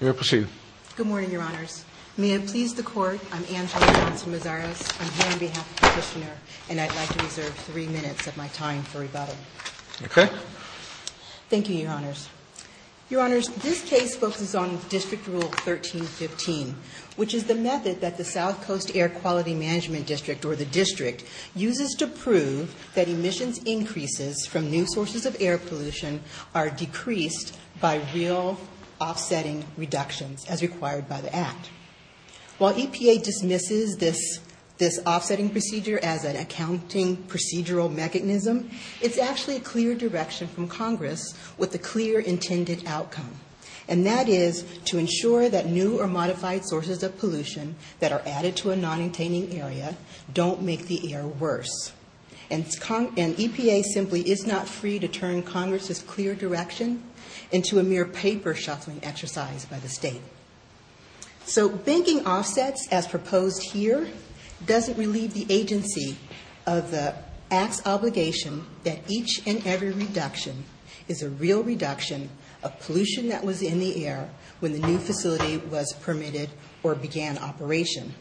Good morning, Your Honors. May it please the Court, I'm Angela Johnson-Mazaras, I'm here on behalf of the Petitioner, and I'd like to reserve three minutes of my time for rebuttal. Okay. Thank you, Your Honors. Your Honors, this case focuses on District Rule 1315, which is the method that the South increases from new sources of air pollution are decreased by real offsetting reductions, as required by the Act. While EPA dismisses this offsetting procedure as an accounting procedural mechanism, it's actually a clear direction from Congress with a clear intended outcome, and that is to ensure that new or modified sources of pollution that are added to a non-attaining area don't make the air worse. And EPA simply is not free to turn Congress's clear direction into a mere paper shuffling exercise by the State. So banking offsets, as proposed here, doesn't relieve the agency of the Act's obligation that each and every reduction is a real reduction of pollution that was in the air when the new facility was permitted or began operation.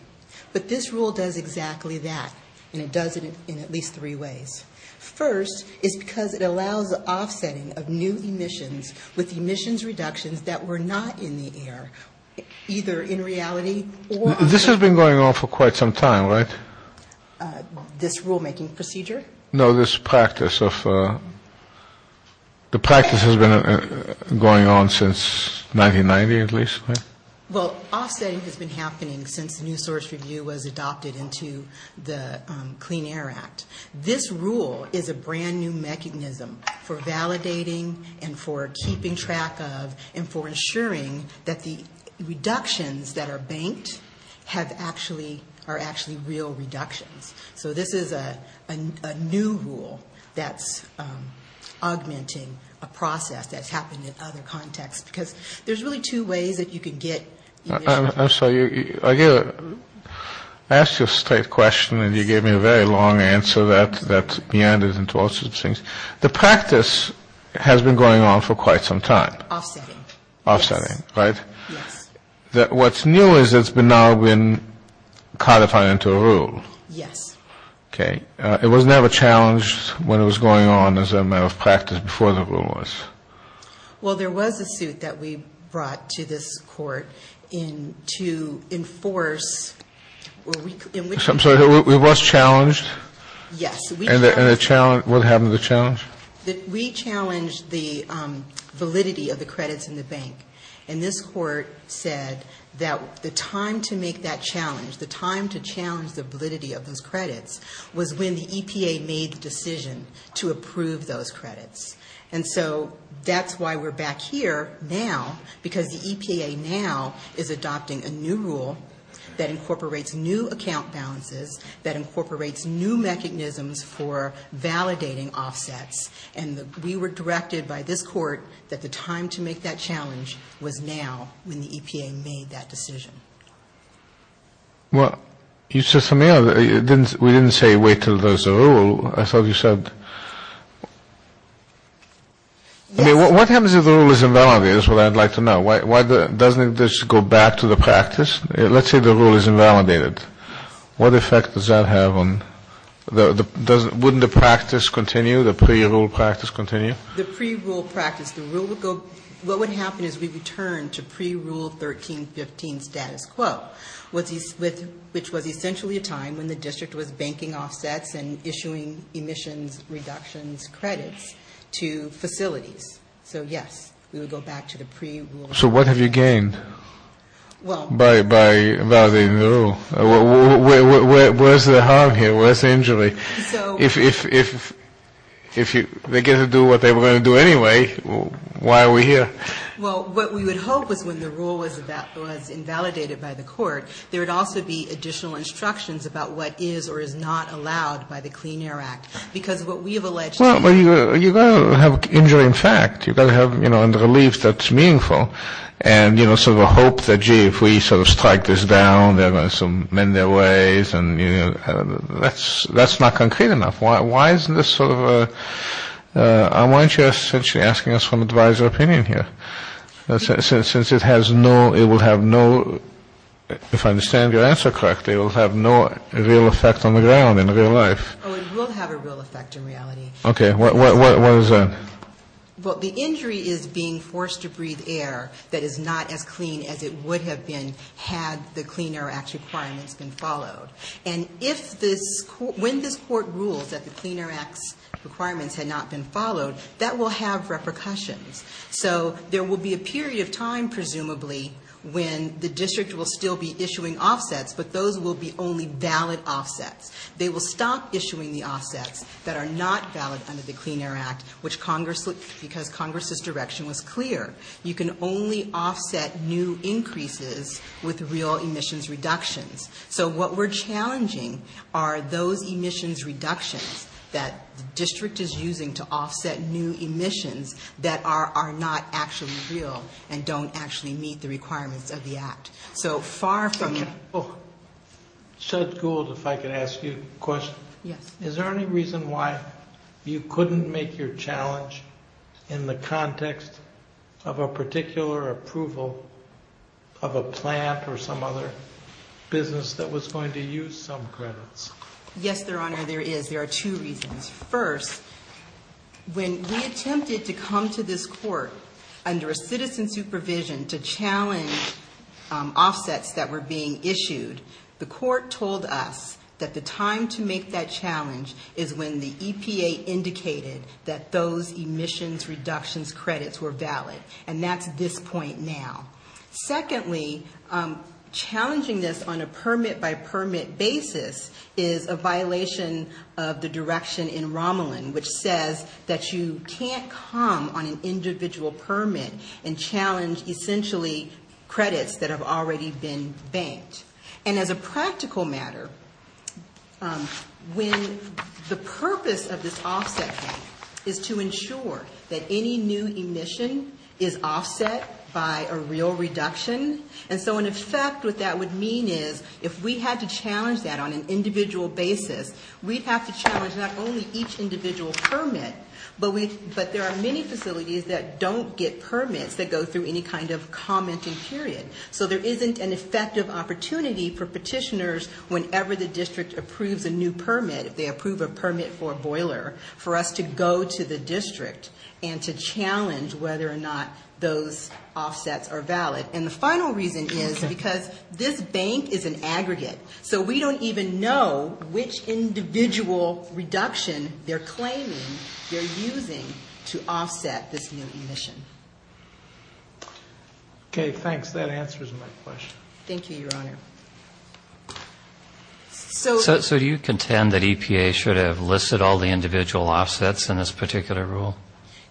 But this rule does exactly that, and it does it in at least three ways. First, is because it allows offsetting of new emissions with emissions reductions that were not in the air, either in reality or... This has been going on for quite some time, right? This rulemaking procedure? No, this practice of... The practice has been going on since 1990, at least, right? Well, offsetting has been happening since the new source review was adopted into the Clean Air Act. This rule is a brand new mechanism for validating and for keeping track of and for ensuring that the reductions that are banked are actually real reductions. So this is a new rule that's augmenting a process that's happened in other contexts, because there's really two ways that you can get emissions... I'm sorry, I asked you a straight question, and you gave me a very long answer that's meandered into all sorts of things. The practice has been going on for quite some time. Offsetting. Offsetting, right? Yes. What's new is it's now been codified into a rule. Yes. Okay. It was never challenged when it was going on as a matter of practice before the rule was? Well, there was a suit that we brought to this court to enforce... I'm sorry, it was challenged? Yes. And what happened to the challenge? We challenged the validity of the credits in the bank. And this court said that the time to make that challenge, the time to challenge the validity of those credits, was when the EPA made the decision to approve those credits. And so that's why we're back here now, because the EPA now is adopting a new rule that incorporates new account balances, that incorporates new mechanisms for validating offsets. And we were directed by this court that the time to make that challenge was now when the EPA made that decision. Well, you said something else. We didn't say wait until there's a rule. I thought you said... I mean, what happens if the rule is invalidated is what I'd like to know. Why doesn't this go back to the practice? Let's say the rule is invalidated. What effect does that have on... Wouldn't the practice continue, the pre-rule practice continue? The pre-rule practice, the rule would go... What would happen is we return to pre-rule 1315 status quo, which was essentially a time when the district was banking offsets and issuing emissions reductions credits to facilities. So, yes, we would go back to the pre-rule... So what have you gained by validating the rule? Where's the harm here? Where's the injury? If they get to do what they were going to do anyway, why are we here? Well, what we would hope was when the rule was invalidated by the court, there would also be additional instructions about what is or is not allowed by the Clean Air Act, because what we have alleged... Well, you've got to have injury in fact. You've got to have, you know, a relief that's meaningful and, you know, sort of a hope that, gee, if we sort of strike this down, they're going to sort of mend their ways and, you know, that's not concrete enough. Why isn't this sort of a... Why aren't you essentially asking us for an advisor opinion here? Since it has no... It will have no... If I understand your answer correctly, it will have no real effect on the ground in real life. Oh, it will have a real effect in reality. Okay, what is that? Well, the injury is being forced to breathe air that is not as clean as it would have been had the Clean Air Act requirements been followed. And if this... When this court rules that the Clean Air Act's requirements had not been followed, that will have repercussions. So there will be a period of time, presumably, when the district will still be issuing offsets, but those will be only valid offsets. They will stop issuing the offsets that are not valid under the Clean Air Act, which Congress... Because Congress's direction was clear. You can only offset new increases with real emissions reductions. So what we're challenging are those emissions reductions that the district is using to offset new emissions that are not actually real and don't actually meet the requirements of the Act. So far from... Okay. Judge Gould, if I could ask you a question. Yes. Is there any reason why you couldn't make your challenge in the context of a particular approval of a plant or some other business that was going to use some credits? Yes, Your Honor, there is. There are two reasons. First, when we attempted to come to this court under a citizen supervision to challenge offsets that were being issued, the court told us that the time to make that challenge is when the EPA indicated that those emissions reductions credits were valid, and that's this point now. Secondly, challenging this on a permit-by-permit basis is a violation of the direction in Romulan, which says that you can't come on an individual permit and challenge essentially credits that have already been banked. And as a practical matter, when the purpose of this offset thing is to ensure that any new emission is offset by a real reduction, and so in effect what that would mean is if we had to challenge that on an individual basis, we'd have to challenge not only each individual permit, but there are many facilities that don't get permits that go through any kind of commenting period. So there isn't an effective opportunity for petitioners whenever the district approves a new permit, if they approve a permit for a boiler, for us to go to the district and to challenge whether or not those offsets are valid. And the final reason is because this bank is an aggregate, so we don't even know which individual reduction they're claiming they're using to offset this new emission. Okay, thanks. That answers my question. Thank you, Your Honor. So... So do you contend that EPA should have listed all the individual offsets in this particular rule?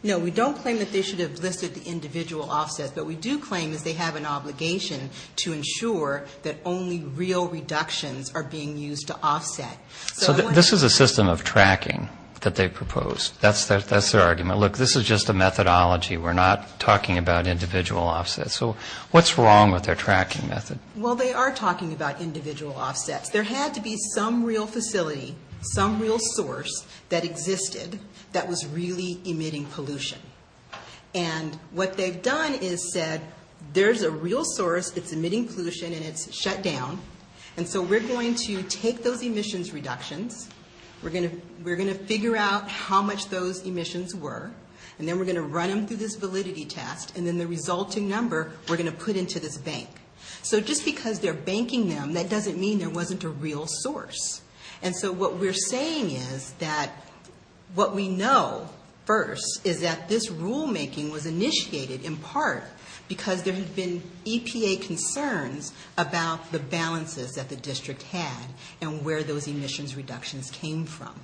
No, we don't claim that they should have listed the individual offsets, but what we do claim is they have an obligation to ensure that only real reductions are being used to offset. So this is a system of tracking that they proposed. That's their argument. Look, this is just a methodology. We're not talking about individual offsets. So what's wrong with their tracking method? Well, they are talking about individual offsets. There had to be some real facility, some real source that existed that was really emitting pollution. And what they've done is said, there's a real source that's emitting pollution and it's shut down, and so we're going to take those emissions reductions, we're gonna figure out how much those emissions were, and then we're gonna run them through this validity test, and then the resulting number we're gonna put into this bank. So just because they're banking them, that doesn't mean there wasn't a real source. And so what we're saying is that what we know first is that this rulemaking was initiated in part because there had been EPA concerns about the balances that the district had and where those emissions reductions came from.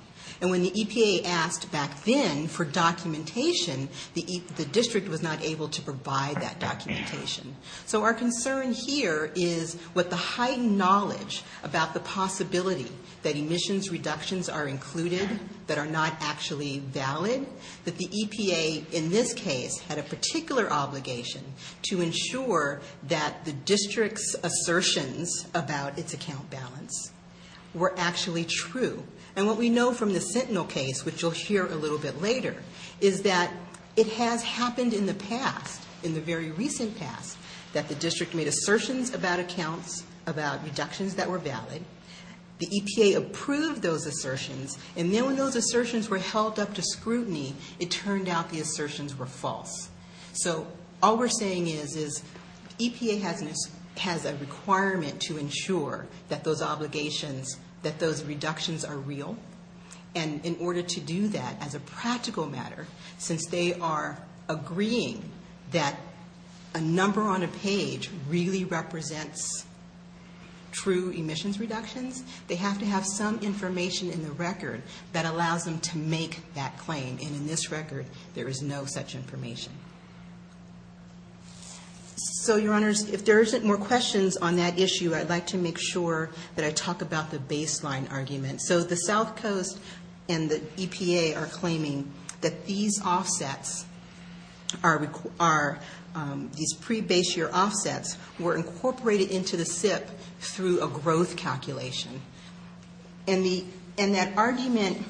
And when the EPA asked back then for documentation, the district was not able to provide that documentation. So our concern here is what the heightened knowledge about the possibility that emissions reductions are included that are not actually valid, that the EPA, in this case, had a particular obligation to ensure that the district's assertions about its account balance were actually true. And what we know from the Sentinel case, which you'll hear a little bit later, is that it has happened in the past, in the very recent past, that the district made assertions about accounts, about reductions that were valid, the EPA approved those assertions, and then when those assertions were held up to scrutiny, it turned out the assertions were false. So all we're saying is, is EPA has a requirement to ensure that those obligations, that those reductions are real. And in order to do that, as a practical matter, since they are agreeing that a number on a page really represents true emissions reductions, they have to have some information in the record that allows them to make that claim. And in this record, there is no such information. So, Your Honors, if there isn't more questions on that issue, I'd like to make sure that I talk about the baseline argument. So the South Coast and the EPA are claiming that these offsets are... these pre-base-year offsets were incorporated into the SIP through a growth calculation. And that argument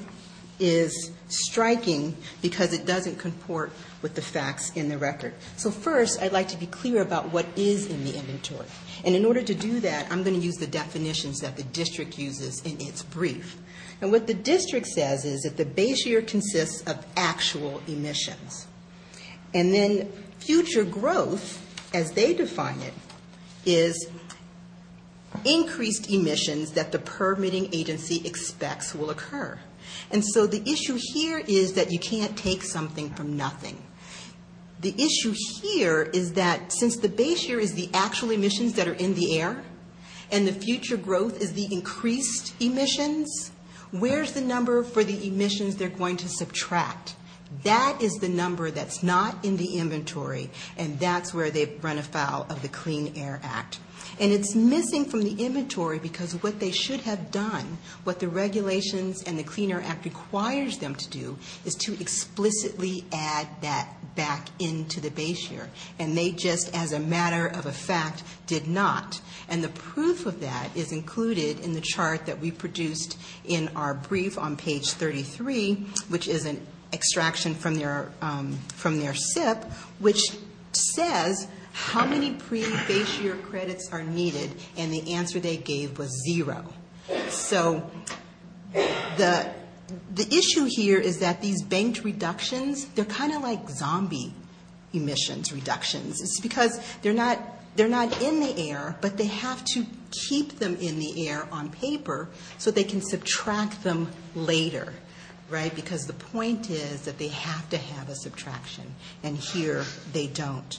is striking because it doesn't comport with the facts in the record. So first, I'd like to be clear about what is in the inventory. And in order to do that, I'm going to use the definitions that the district uses in its brief. And what the district says is that the base year consists of actual emissions. And then future growth, as they define it, is increased emissions that the permitting agency expects will occur. And so the issue here is that you can't take something from nothing. The issue here is that since the base year is the actual emissions that are in the air, and the future growth is the increased emissions, where's the number for the emissions they're going to subtract? That is the number that's not in the inventory, and that's where they run afoul of the Clean Air Act. And it's missing from the inventory because what they should have done, what the regulations and the Clean Air Act requires them to do, is to explicitly add that back into the base year. And they just, as a matter of a fact, did not. And the proof of that is included in the chart that we produced in our brief on page 33, which is an extraction from their SIP, which says how many pre-base year credits are needed, and the answer they gave was zero. So the issue here is that these banked reductions, they're kind of like zombie emissions reductions. It's because they're not in the air, but they have to keep them in the air on paper so they can subtract them later, right? Because the point is that they have to have a subtraction. And here they don't.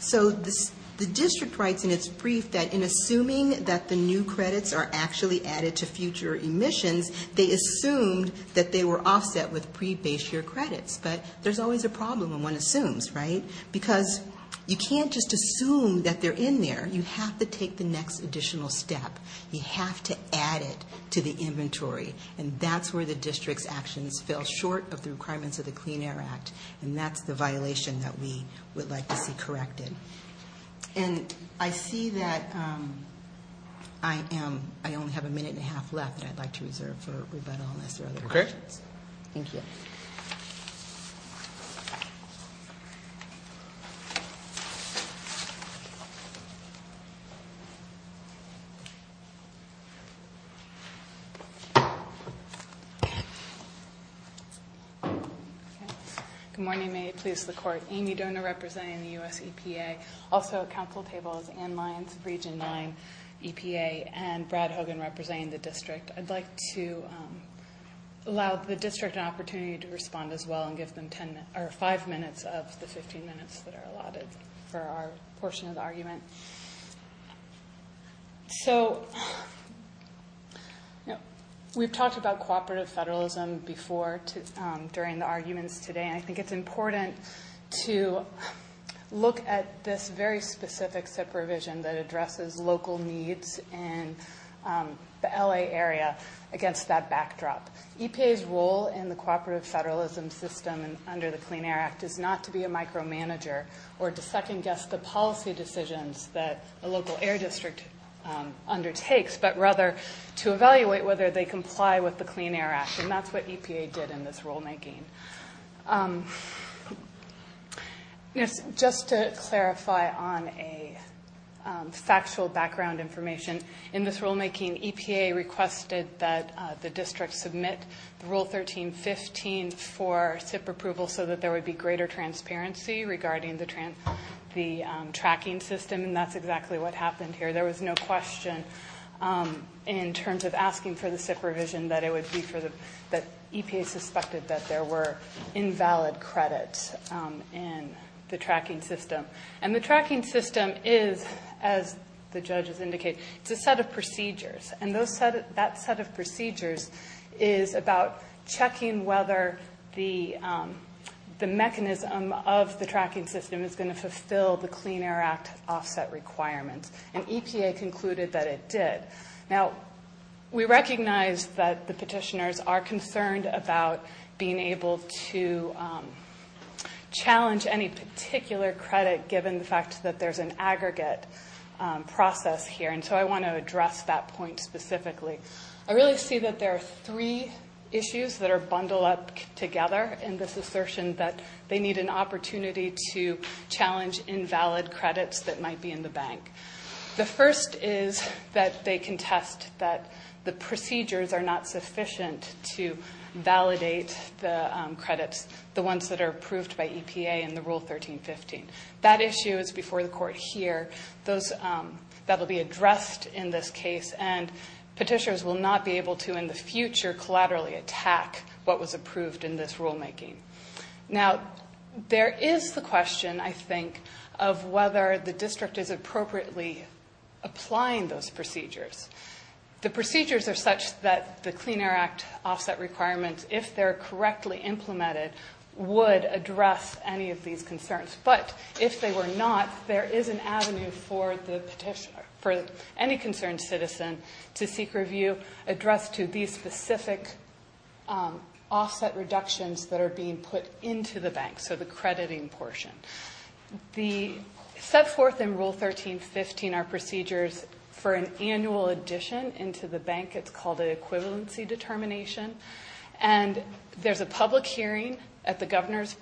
So the district writes in its brief that in assuming that the new credits are actually added to future emissions, they assumed that they were offset with pre-base year credits. But there's always a problem when one assumes, right? Because you can't just assume that they're in there. You have to take the next additional step. You have to add it to the inventory. And that's where the district's actions fell short of the requirements of the Clean Air Act. And that's the violation that we would like to see corrected. And I see that I am... I only have a minute and a half left that I'd like to reserve for rebuttal unless there are other questions. Thank you. Thank you. Good morning. May it please the Court. Amy Dohner representing the U.S. EPA. Also at council table is Ann Lyons, Region 9 EPA, and Brad Hogan representing the district. I'd like to allow the district an opportunity to respond as well and give them five minutes of the 15 minutes that are allotted for our portion of the argument. We've talked about cooperative federalism before during the arguments today, and I think it's important to look at this very specific supervision that addresses local needs in the L.A. area against that backdrop. EPA's role in the cooperative federalism system under the Clean Air Act is not to be a micromanager or to second-guess the policy decisions that a local air district undertakes, but rather to evaluate whether they comply with the Clean Air Act, and that's what EPA did in this rulemaking. Just to clarify on a factual background information, in this rulemaking, EPA requested that the district submit Rule 13.15 for SIP approval so that there would be greater transparency regarding the tracking system, and that's exactly what happened here. There was no question in terms of asking for the SIP revision that it would be for the... that EPA suspected that there were invalid credits in the tracking system, and the tracking system is, as the judges indicated, it's a set of procedures, and that set of procedures is about checking whether the mechanism of the tracking system is going to fulfill the Clean Air Act offset requirements, and EPA concluded that it did. Now, we recognize that the petitioners are concerned about being able to challenge any particular credit given the fact that there's an aggregate process here, and so I want to address that point specifically. I really see that there are three issues that are bundled up together in this assertion that they need an opportunity to challenge invalid credits that might be in the bank. The first is that they contest that the procedures are not sufficient to validate the credits, the ones that are approved by EPA in the Rule 1315. That issue is before the court here. That'll be addressed in this case, and petitioners will not be able to, in the future, collaterally attack what was approved in this rulemaking. Now, there is the question, I think, of whether the district is appropriately applying those procedures. The procedures are such that the Clean Air Act offset requirements, if they're correctly implemented, would address any of these concerns, but if they were not, there is an avenue for the petitioner, for any concerned citizen to seek review addressed to these specific offset reductions that are being put into the bank, so the crediting portion. The...set forth in Rule 1315 are procedures for an annual addition into the bank. It's called an equivalency determination, and there's a public hearing at the governor's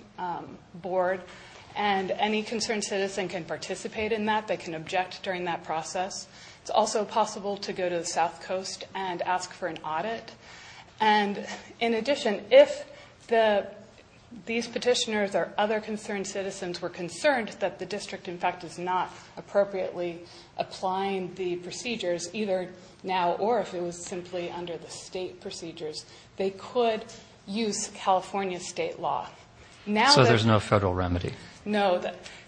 board, and any concerned citizen can participate in that. They can object during that process. It's also possible to go to the South Coast and ask for an audit, and in addition, or other concerned citizens were concerned that the district, in fact, is not appropriately applying the procedures, either now or if it was simply under the state procedures, they could use California state law. So there's no federal remedy? No.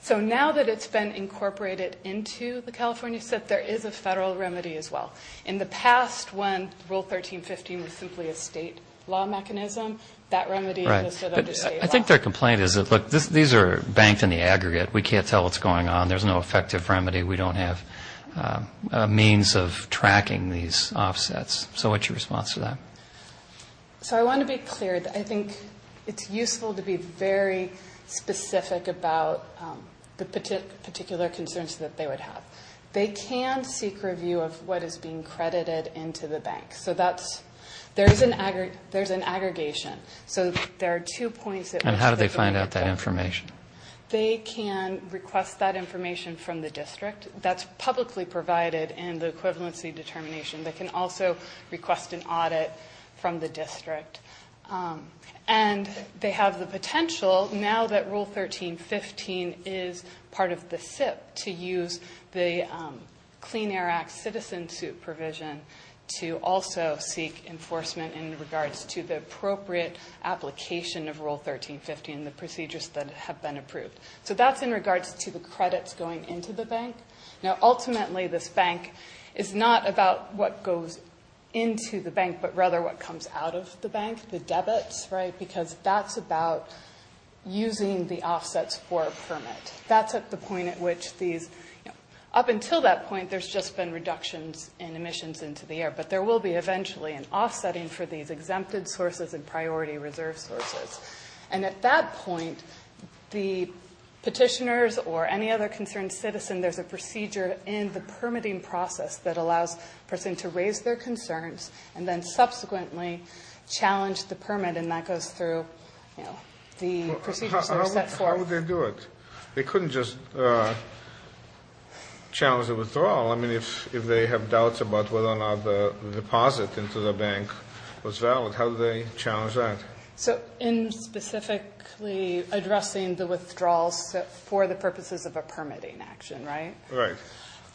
So now that it's been incorporated into the California set, there is a federal remedy as well. In the past, when Rule 1315 was simply a state law mechanism, that remedy was set under state law. I think their complaint is that, look, these are banked in the aggregate. We can't tell what's going on. There's no effective remedy. We don't have a means of tracking these offsets. So what's your response to that? So I want to be clear. I think it's useful to be very specific about the particular concerns that they would have. They can seek review of what is being credited into the bank. So there's an aggregation. So there are two points... And how do they find out that information? They can request that information from the district. That's publicly provided in the equivalency determination. They can also request an audit from the district. And they have the potential, now that Rule 1315 is part of the SIP, to use the Clean Air Act citizen suit provision to also seek enforcement in regards to the appropriate application of Rule 1315, and the procedures that have been approved. So that's in regards to the credits going into the bank. Now, ultimately, this bank is not about what goes into the bank, but rather what comes out of the bank, the debits, right? Because that's about using the offsets for a permit. That's at the point at which these... Up until that point, there's just been reductions in emissions into the air. But there will be eventually an offsetting for these exempted sources and priority reserve sources. And at that point, the petitioners or any other concerned citizen, there's a procedure in the permitting process that allows a person to raise their concerns and then subsequently challenge the permit, and that goes through, you know, the procedures that are set forth. How would they do it? They couldn't just challenge the withdrawal. I mean, if they have doubts about whether or not the deposit into the bank was valid, how do they challenge that? So in specifically addressing the withdrawals for the purposes of a permitting action, right? Right.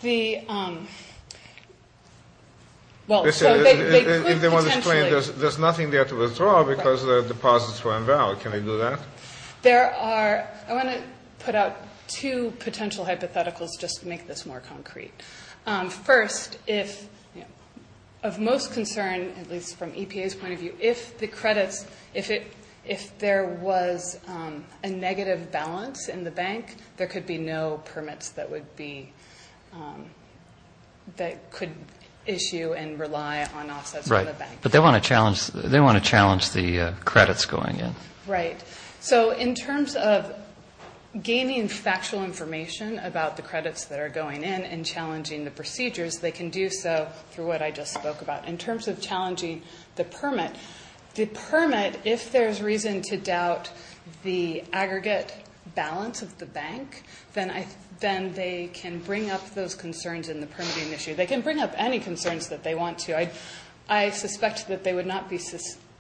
The, um... Well, so they could potentially... There's nothing there to withdraw because the deposits were invalid. Can they do that? There are... I want to put out two potential hypotheticals just to make this more concrete. First, if, you know, of most concern, at least from EPA's point of view, if the credits... If it... If there was a negative balance in the bank, there could be no permits that would be, um... that could issue and rely on offsets for the bank. Right, but they want to challenge... They want to challenge the credits going in. Right. So in terms of gaining factual information about the credits that are going in and challenging the procedures, they can do so through what I just spoke about. In terms of challenging the permit, the permit, if there's reason to doubt the aggregate balance of the bank, then I... then they can bring up those concerns in the permitting issue. They can bring up any concerns that they want to. I suspect that they would not be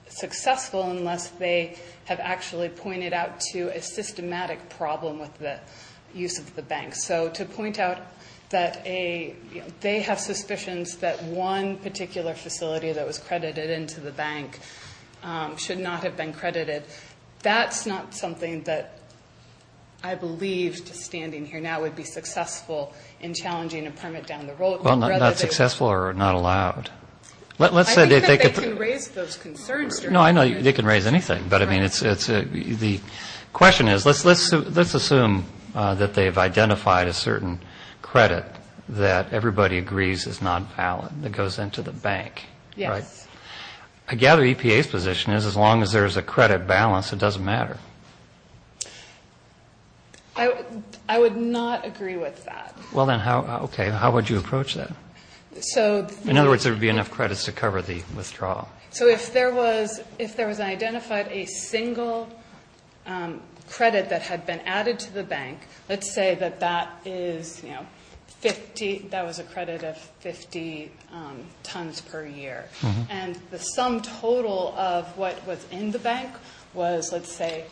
successful unless they have actually pointed out to a systematic problem with the use of the bank. So to point out that a... that a facility that was credited into the bank should not have been credited, that's not something that I believed, standing here now, would be successful in challenging a permit down the road. Well, not successful or not allowed. Let's say that they could... I think that they can raise those concerns... No, I know they can raise anything, but, I mean, it's... The question is, let's assume that they've identified a certain credit that everybody agrees is non-valid that goes into the bank, right? Yes. I gather EPA's position is as long as there's a credit balance, it doesn't matter. I would not agree with that. Well, then, how... Okay, how would you approach that? So... In other words, there would be enough credits to cover the withdrawal. So if there was... if there was identified a single credit that had been added to the bank, let's say that that is, you know, 50... That was a credit of 50 tons per year. Mm-hmm. And the sum total of what was in the bank was, let's say,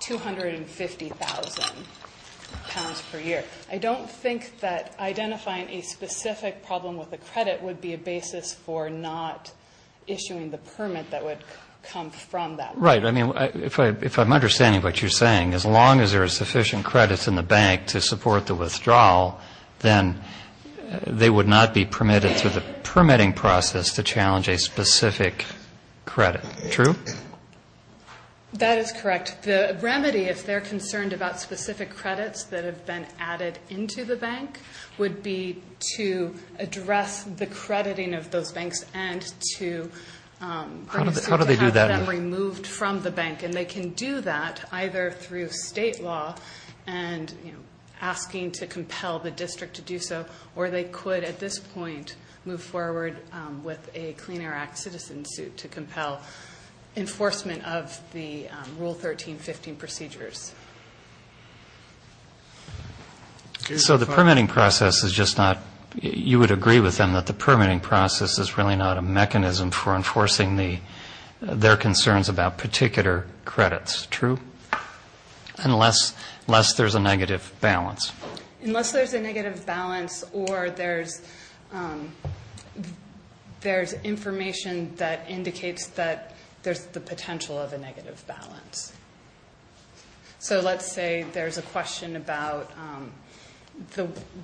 250,000 pounds per year. I don't think that identifying a specific problem with a credit would be a basis for not issuing the permit that would come from that. Right. I mean, if I'm understanding what you're saying, as long as there are sufficient credits in the bank to support the withdrawal, then they would not be permitted through the permitting process to challenge a specific credit. True? That is correct. The remedy, if they're concerned about specific credits that have been added into the bank, would be to address the crediting of those banks and to... How do they do that? ...to have them removed from the bank. And they can do that either through state law and, you know, asking to compel the district to do so, or they could, at this point, move forward with a Clean Air Act citizen suit to compel enforcement of the Rule 1315 procedures. So the permitting process is just not... You would agree with them that the permitting process is really not a mechanism for enforcing their concerns about particular credits. True? Unless there's a negative balance. Unless there's a negative balance or there's information that indicates that there's the potential of a negative balance. So let's say there's a question about...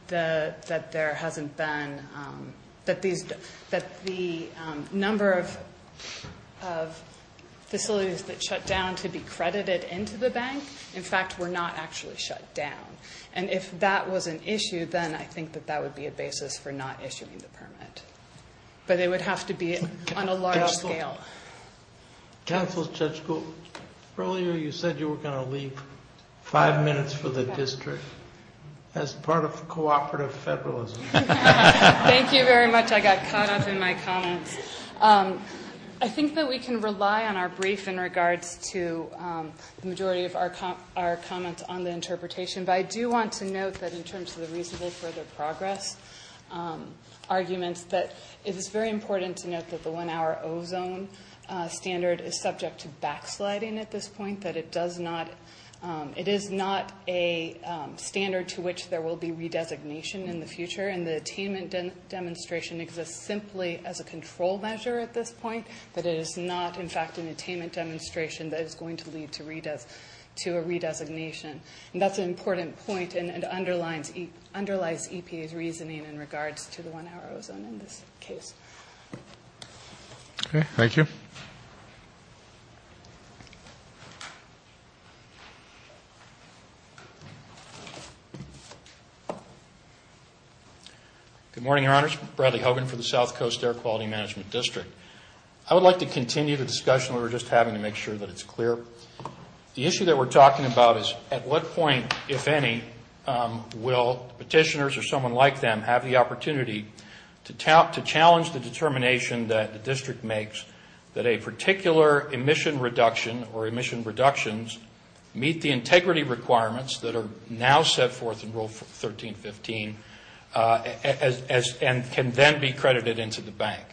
that there hasn't been... that the number of facilities that shut down to be credited into the bank, in fact, were not actually shut down. And if that was an issue, then I think that that would be a basis for not issuing the permit. But it would have to be on a large scale. Counsel, Judge Gould, earlier you said you were going to leave five minutes for the district as part of cooperative federalism. Thank you very much. I got caught up in my comments. I think that we can rely on our brief in regards to the majority of our comments on the interpretation. But I do want to note that in terms of the reasonable further progress arguments, that it is very important to note that the one-hour ozone standard is subject to backsliding at this point. That it does not... It is not a standard to which there will be redesignation in the future. And the attainment demonstration exists simply as a control measure at this point. But it is not, in fact, an attainment demonstration that is going to lead to a redesignation. And that's an important point, and it underlies EPA's reasoning in regards to the one-hour ozone in this case. Okay, thank you. Good morning, Your Honors. Bradley Hogan for the South Coast Air Quality Management District. I would like to continue the discussion we were just having to make sure that it's clear. The issue that we're talking about is at what point, if any, will petitioners or someone like them have the opportunity to challenge the determination that the district makes that a particular emission reduction or emission reductions meet the integrity requirements that are now set forth in Rule 13.15 and can then be credited into the bank.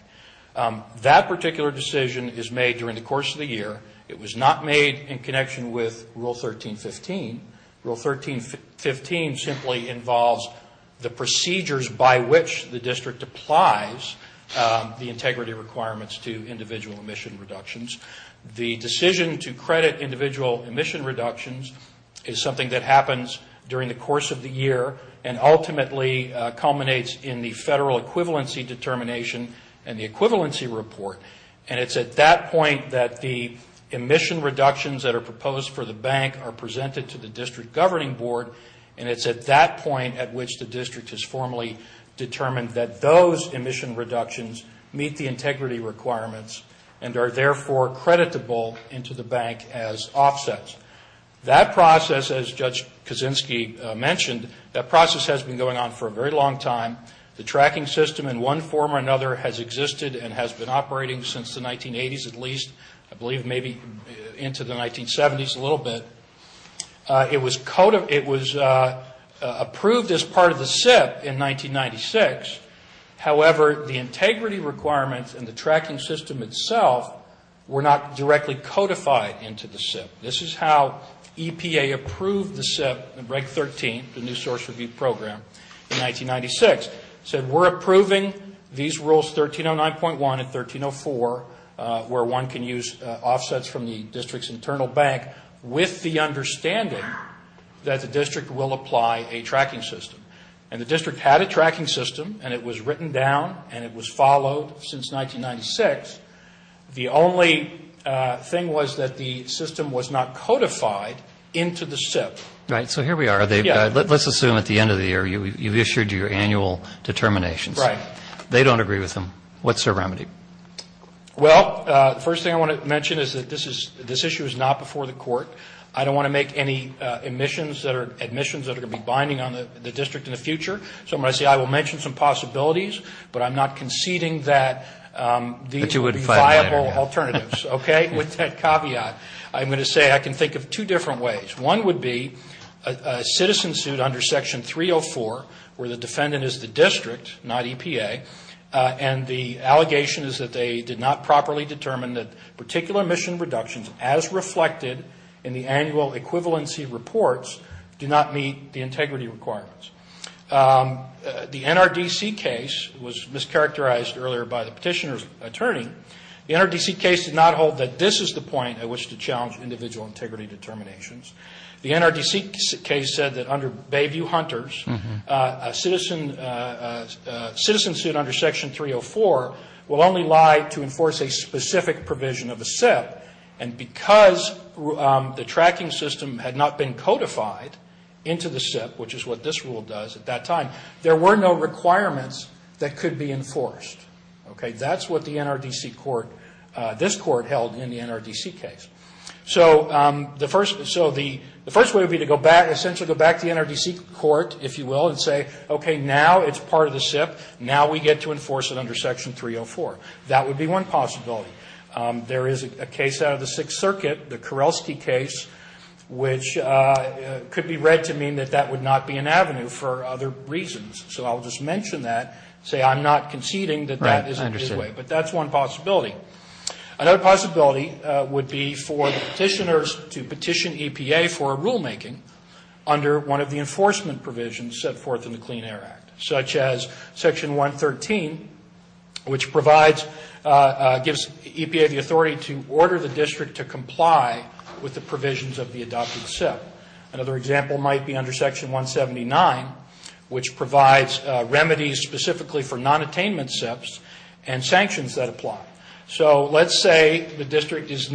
That particular decision is made during the course of the year. It was not made in connection with Rule 13.15. Rule 13.15 simply involves the procedures by which the district applies the integrity requirements to individual emission reductions. The decision to credit individual emission reductions is something that happens during the course of the year and ultimately culminates in the federal equivalency determination and the equivalency report. And it's at that point that the emission reductions that are proposed for the bank are presented to the District Governing Board and it's at that point at which the district has formally determined that those emission reductions meet the integrity requirements and are therefore creditable into the bank as offsets. That process, as Judge Kaczynski mentioned, that process has been going on for a very long time. The tracking system in one form or another has existed and has been operating since the 1980s at least. I believe maybe into the 1970s a little bit. It was approved as part of the SIP in 1996. However, the integrity requirements and the tracking system itself were not directly codified into the SIP. This is how EPA approved the SIP in Reg 13, the New Source Review Program, in 1996. It said we're approving these rules 1309.1 and 1304 where one can use offsets from the district's internal bank with the understanding that the district will apply a tracking system. And the district had a tracking system and it was written down and it was followed since 1996. The only thing was that the system was not codified into the SIP. Right, so here we are. Let's assume at the end of the year you've issued your annual determinations. Right. They don't agree with them. What's their remedy? Well, the first thing I want to mention is that this issue is not before the court. I don't want to make any admissions that are going to be binding on the district in the future. So I'm going to say I will mention some possibilities but I'm not conceding that these would be viable alternatives. Okay? With that caveat, I'm going to say I can think of two different ways. One would be a citizen suit under Section 304 where the defendant is the district not EPA and the allegation is that they did not properly determine that particular mission reductions as reflected in the annual equivalency reports do not meet the integrity requirements. The NRDC case was mischaracterized earlier by the petitioner's attorney. The NRDC case did not hold that this is the point at which to challenge individual integrity determinations. The NRDC case said that under Bayview Hunters a citizen a citizen suit under Section 304 will only lie to enforce a specific provision of a SIP and because the tracking system had not been codified into the SIP which is what this rule does at that time there were no requirements that could be enforced. Okay? That's what the NRDC court this court held in the NRDC case. So the first way would be to go back to the NRDC court if you will and say okay now it's part of the SIP now we get to enforce it under Section 304. That would be one possibility. There is a case out of the Sixth Circuit the Karelsky case which could be one possibility. Another possibility would be for the petitioners to petition EPA for rulemaking under one of the enforcement provisions set forth in the Clean Air Act such as Section 113 which provides gives EPA the authority to order the district to comply with the provisions of the adopted SIP. Another example might be under Section 179 which provides remedies specifically for non-attainment SIPs and sanctions that apply. So let's say the district has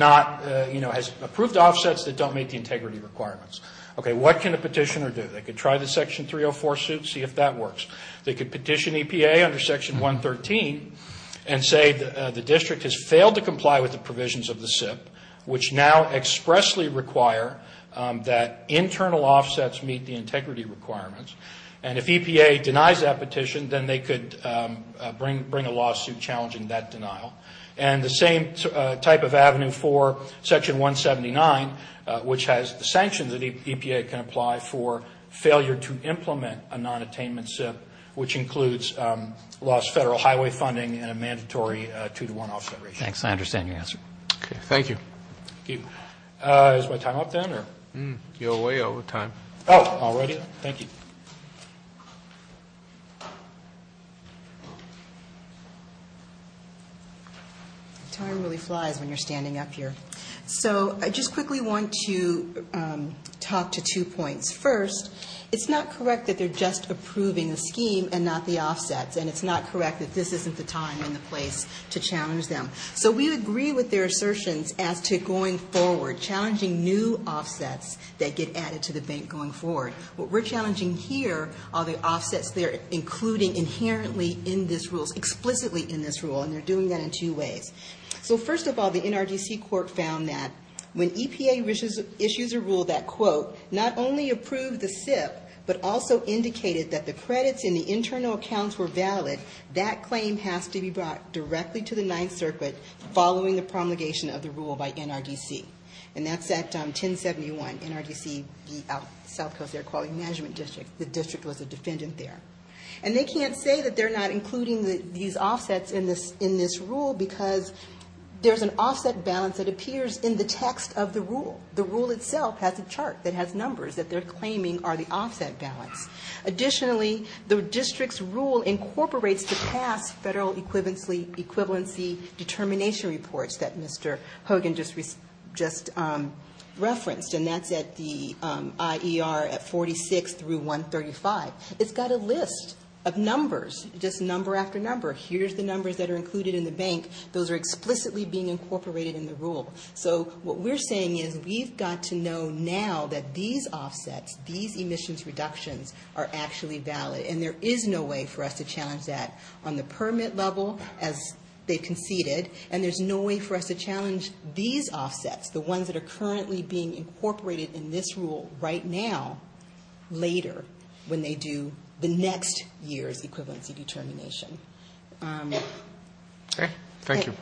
approved offsets that don't meet the integrity requirements. What can a petitioner do? They could try the Section 304 suit and see if EPA for sanctions of the SIP which now expressly require that internal offsets meet the integrity requirements and if EPA denies that petition then they could bring a lawsuit challenging that denial. And the same can be non-attainment SIPs. Okay. Thank you. Is my time up then? You're way over time. Oh, already? Thank you. Time really flies when you're standing up here. So I just quickly want to talk to two points. First, it's not correct that they're just approving the scheme and not the offsets and it's not correct that this isn't the time and the place to challenge them. So we agree with their assertions as to going forward challenging new rules. The NRDC court found that when EPA issues a rule that quote not only approved the SIP but also indicated that the credits in the internal accounts were valid that claim has to be brought directly to the balance that appears in the text of the rule. The rule itself has a chart that has numbers that they're claiming are the offset balance. Additionally the district's rule incorporates the offset into the rule. So what we're saying is we've got to know now that these offsets these emissions reductions are actually valid and there is no way for us to challenge that on the permit level as they conceded and there's no way for us to challenge these offsets the ones that are currently being incorporated in this rule right now later when they do the next year's equivalency determination. Thank you.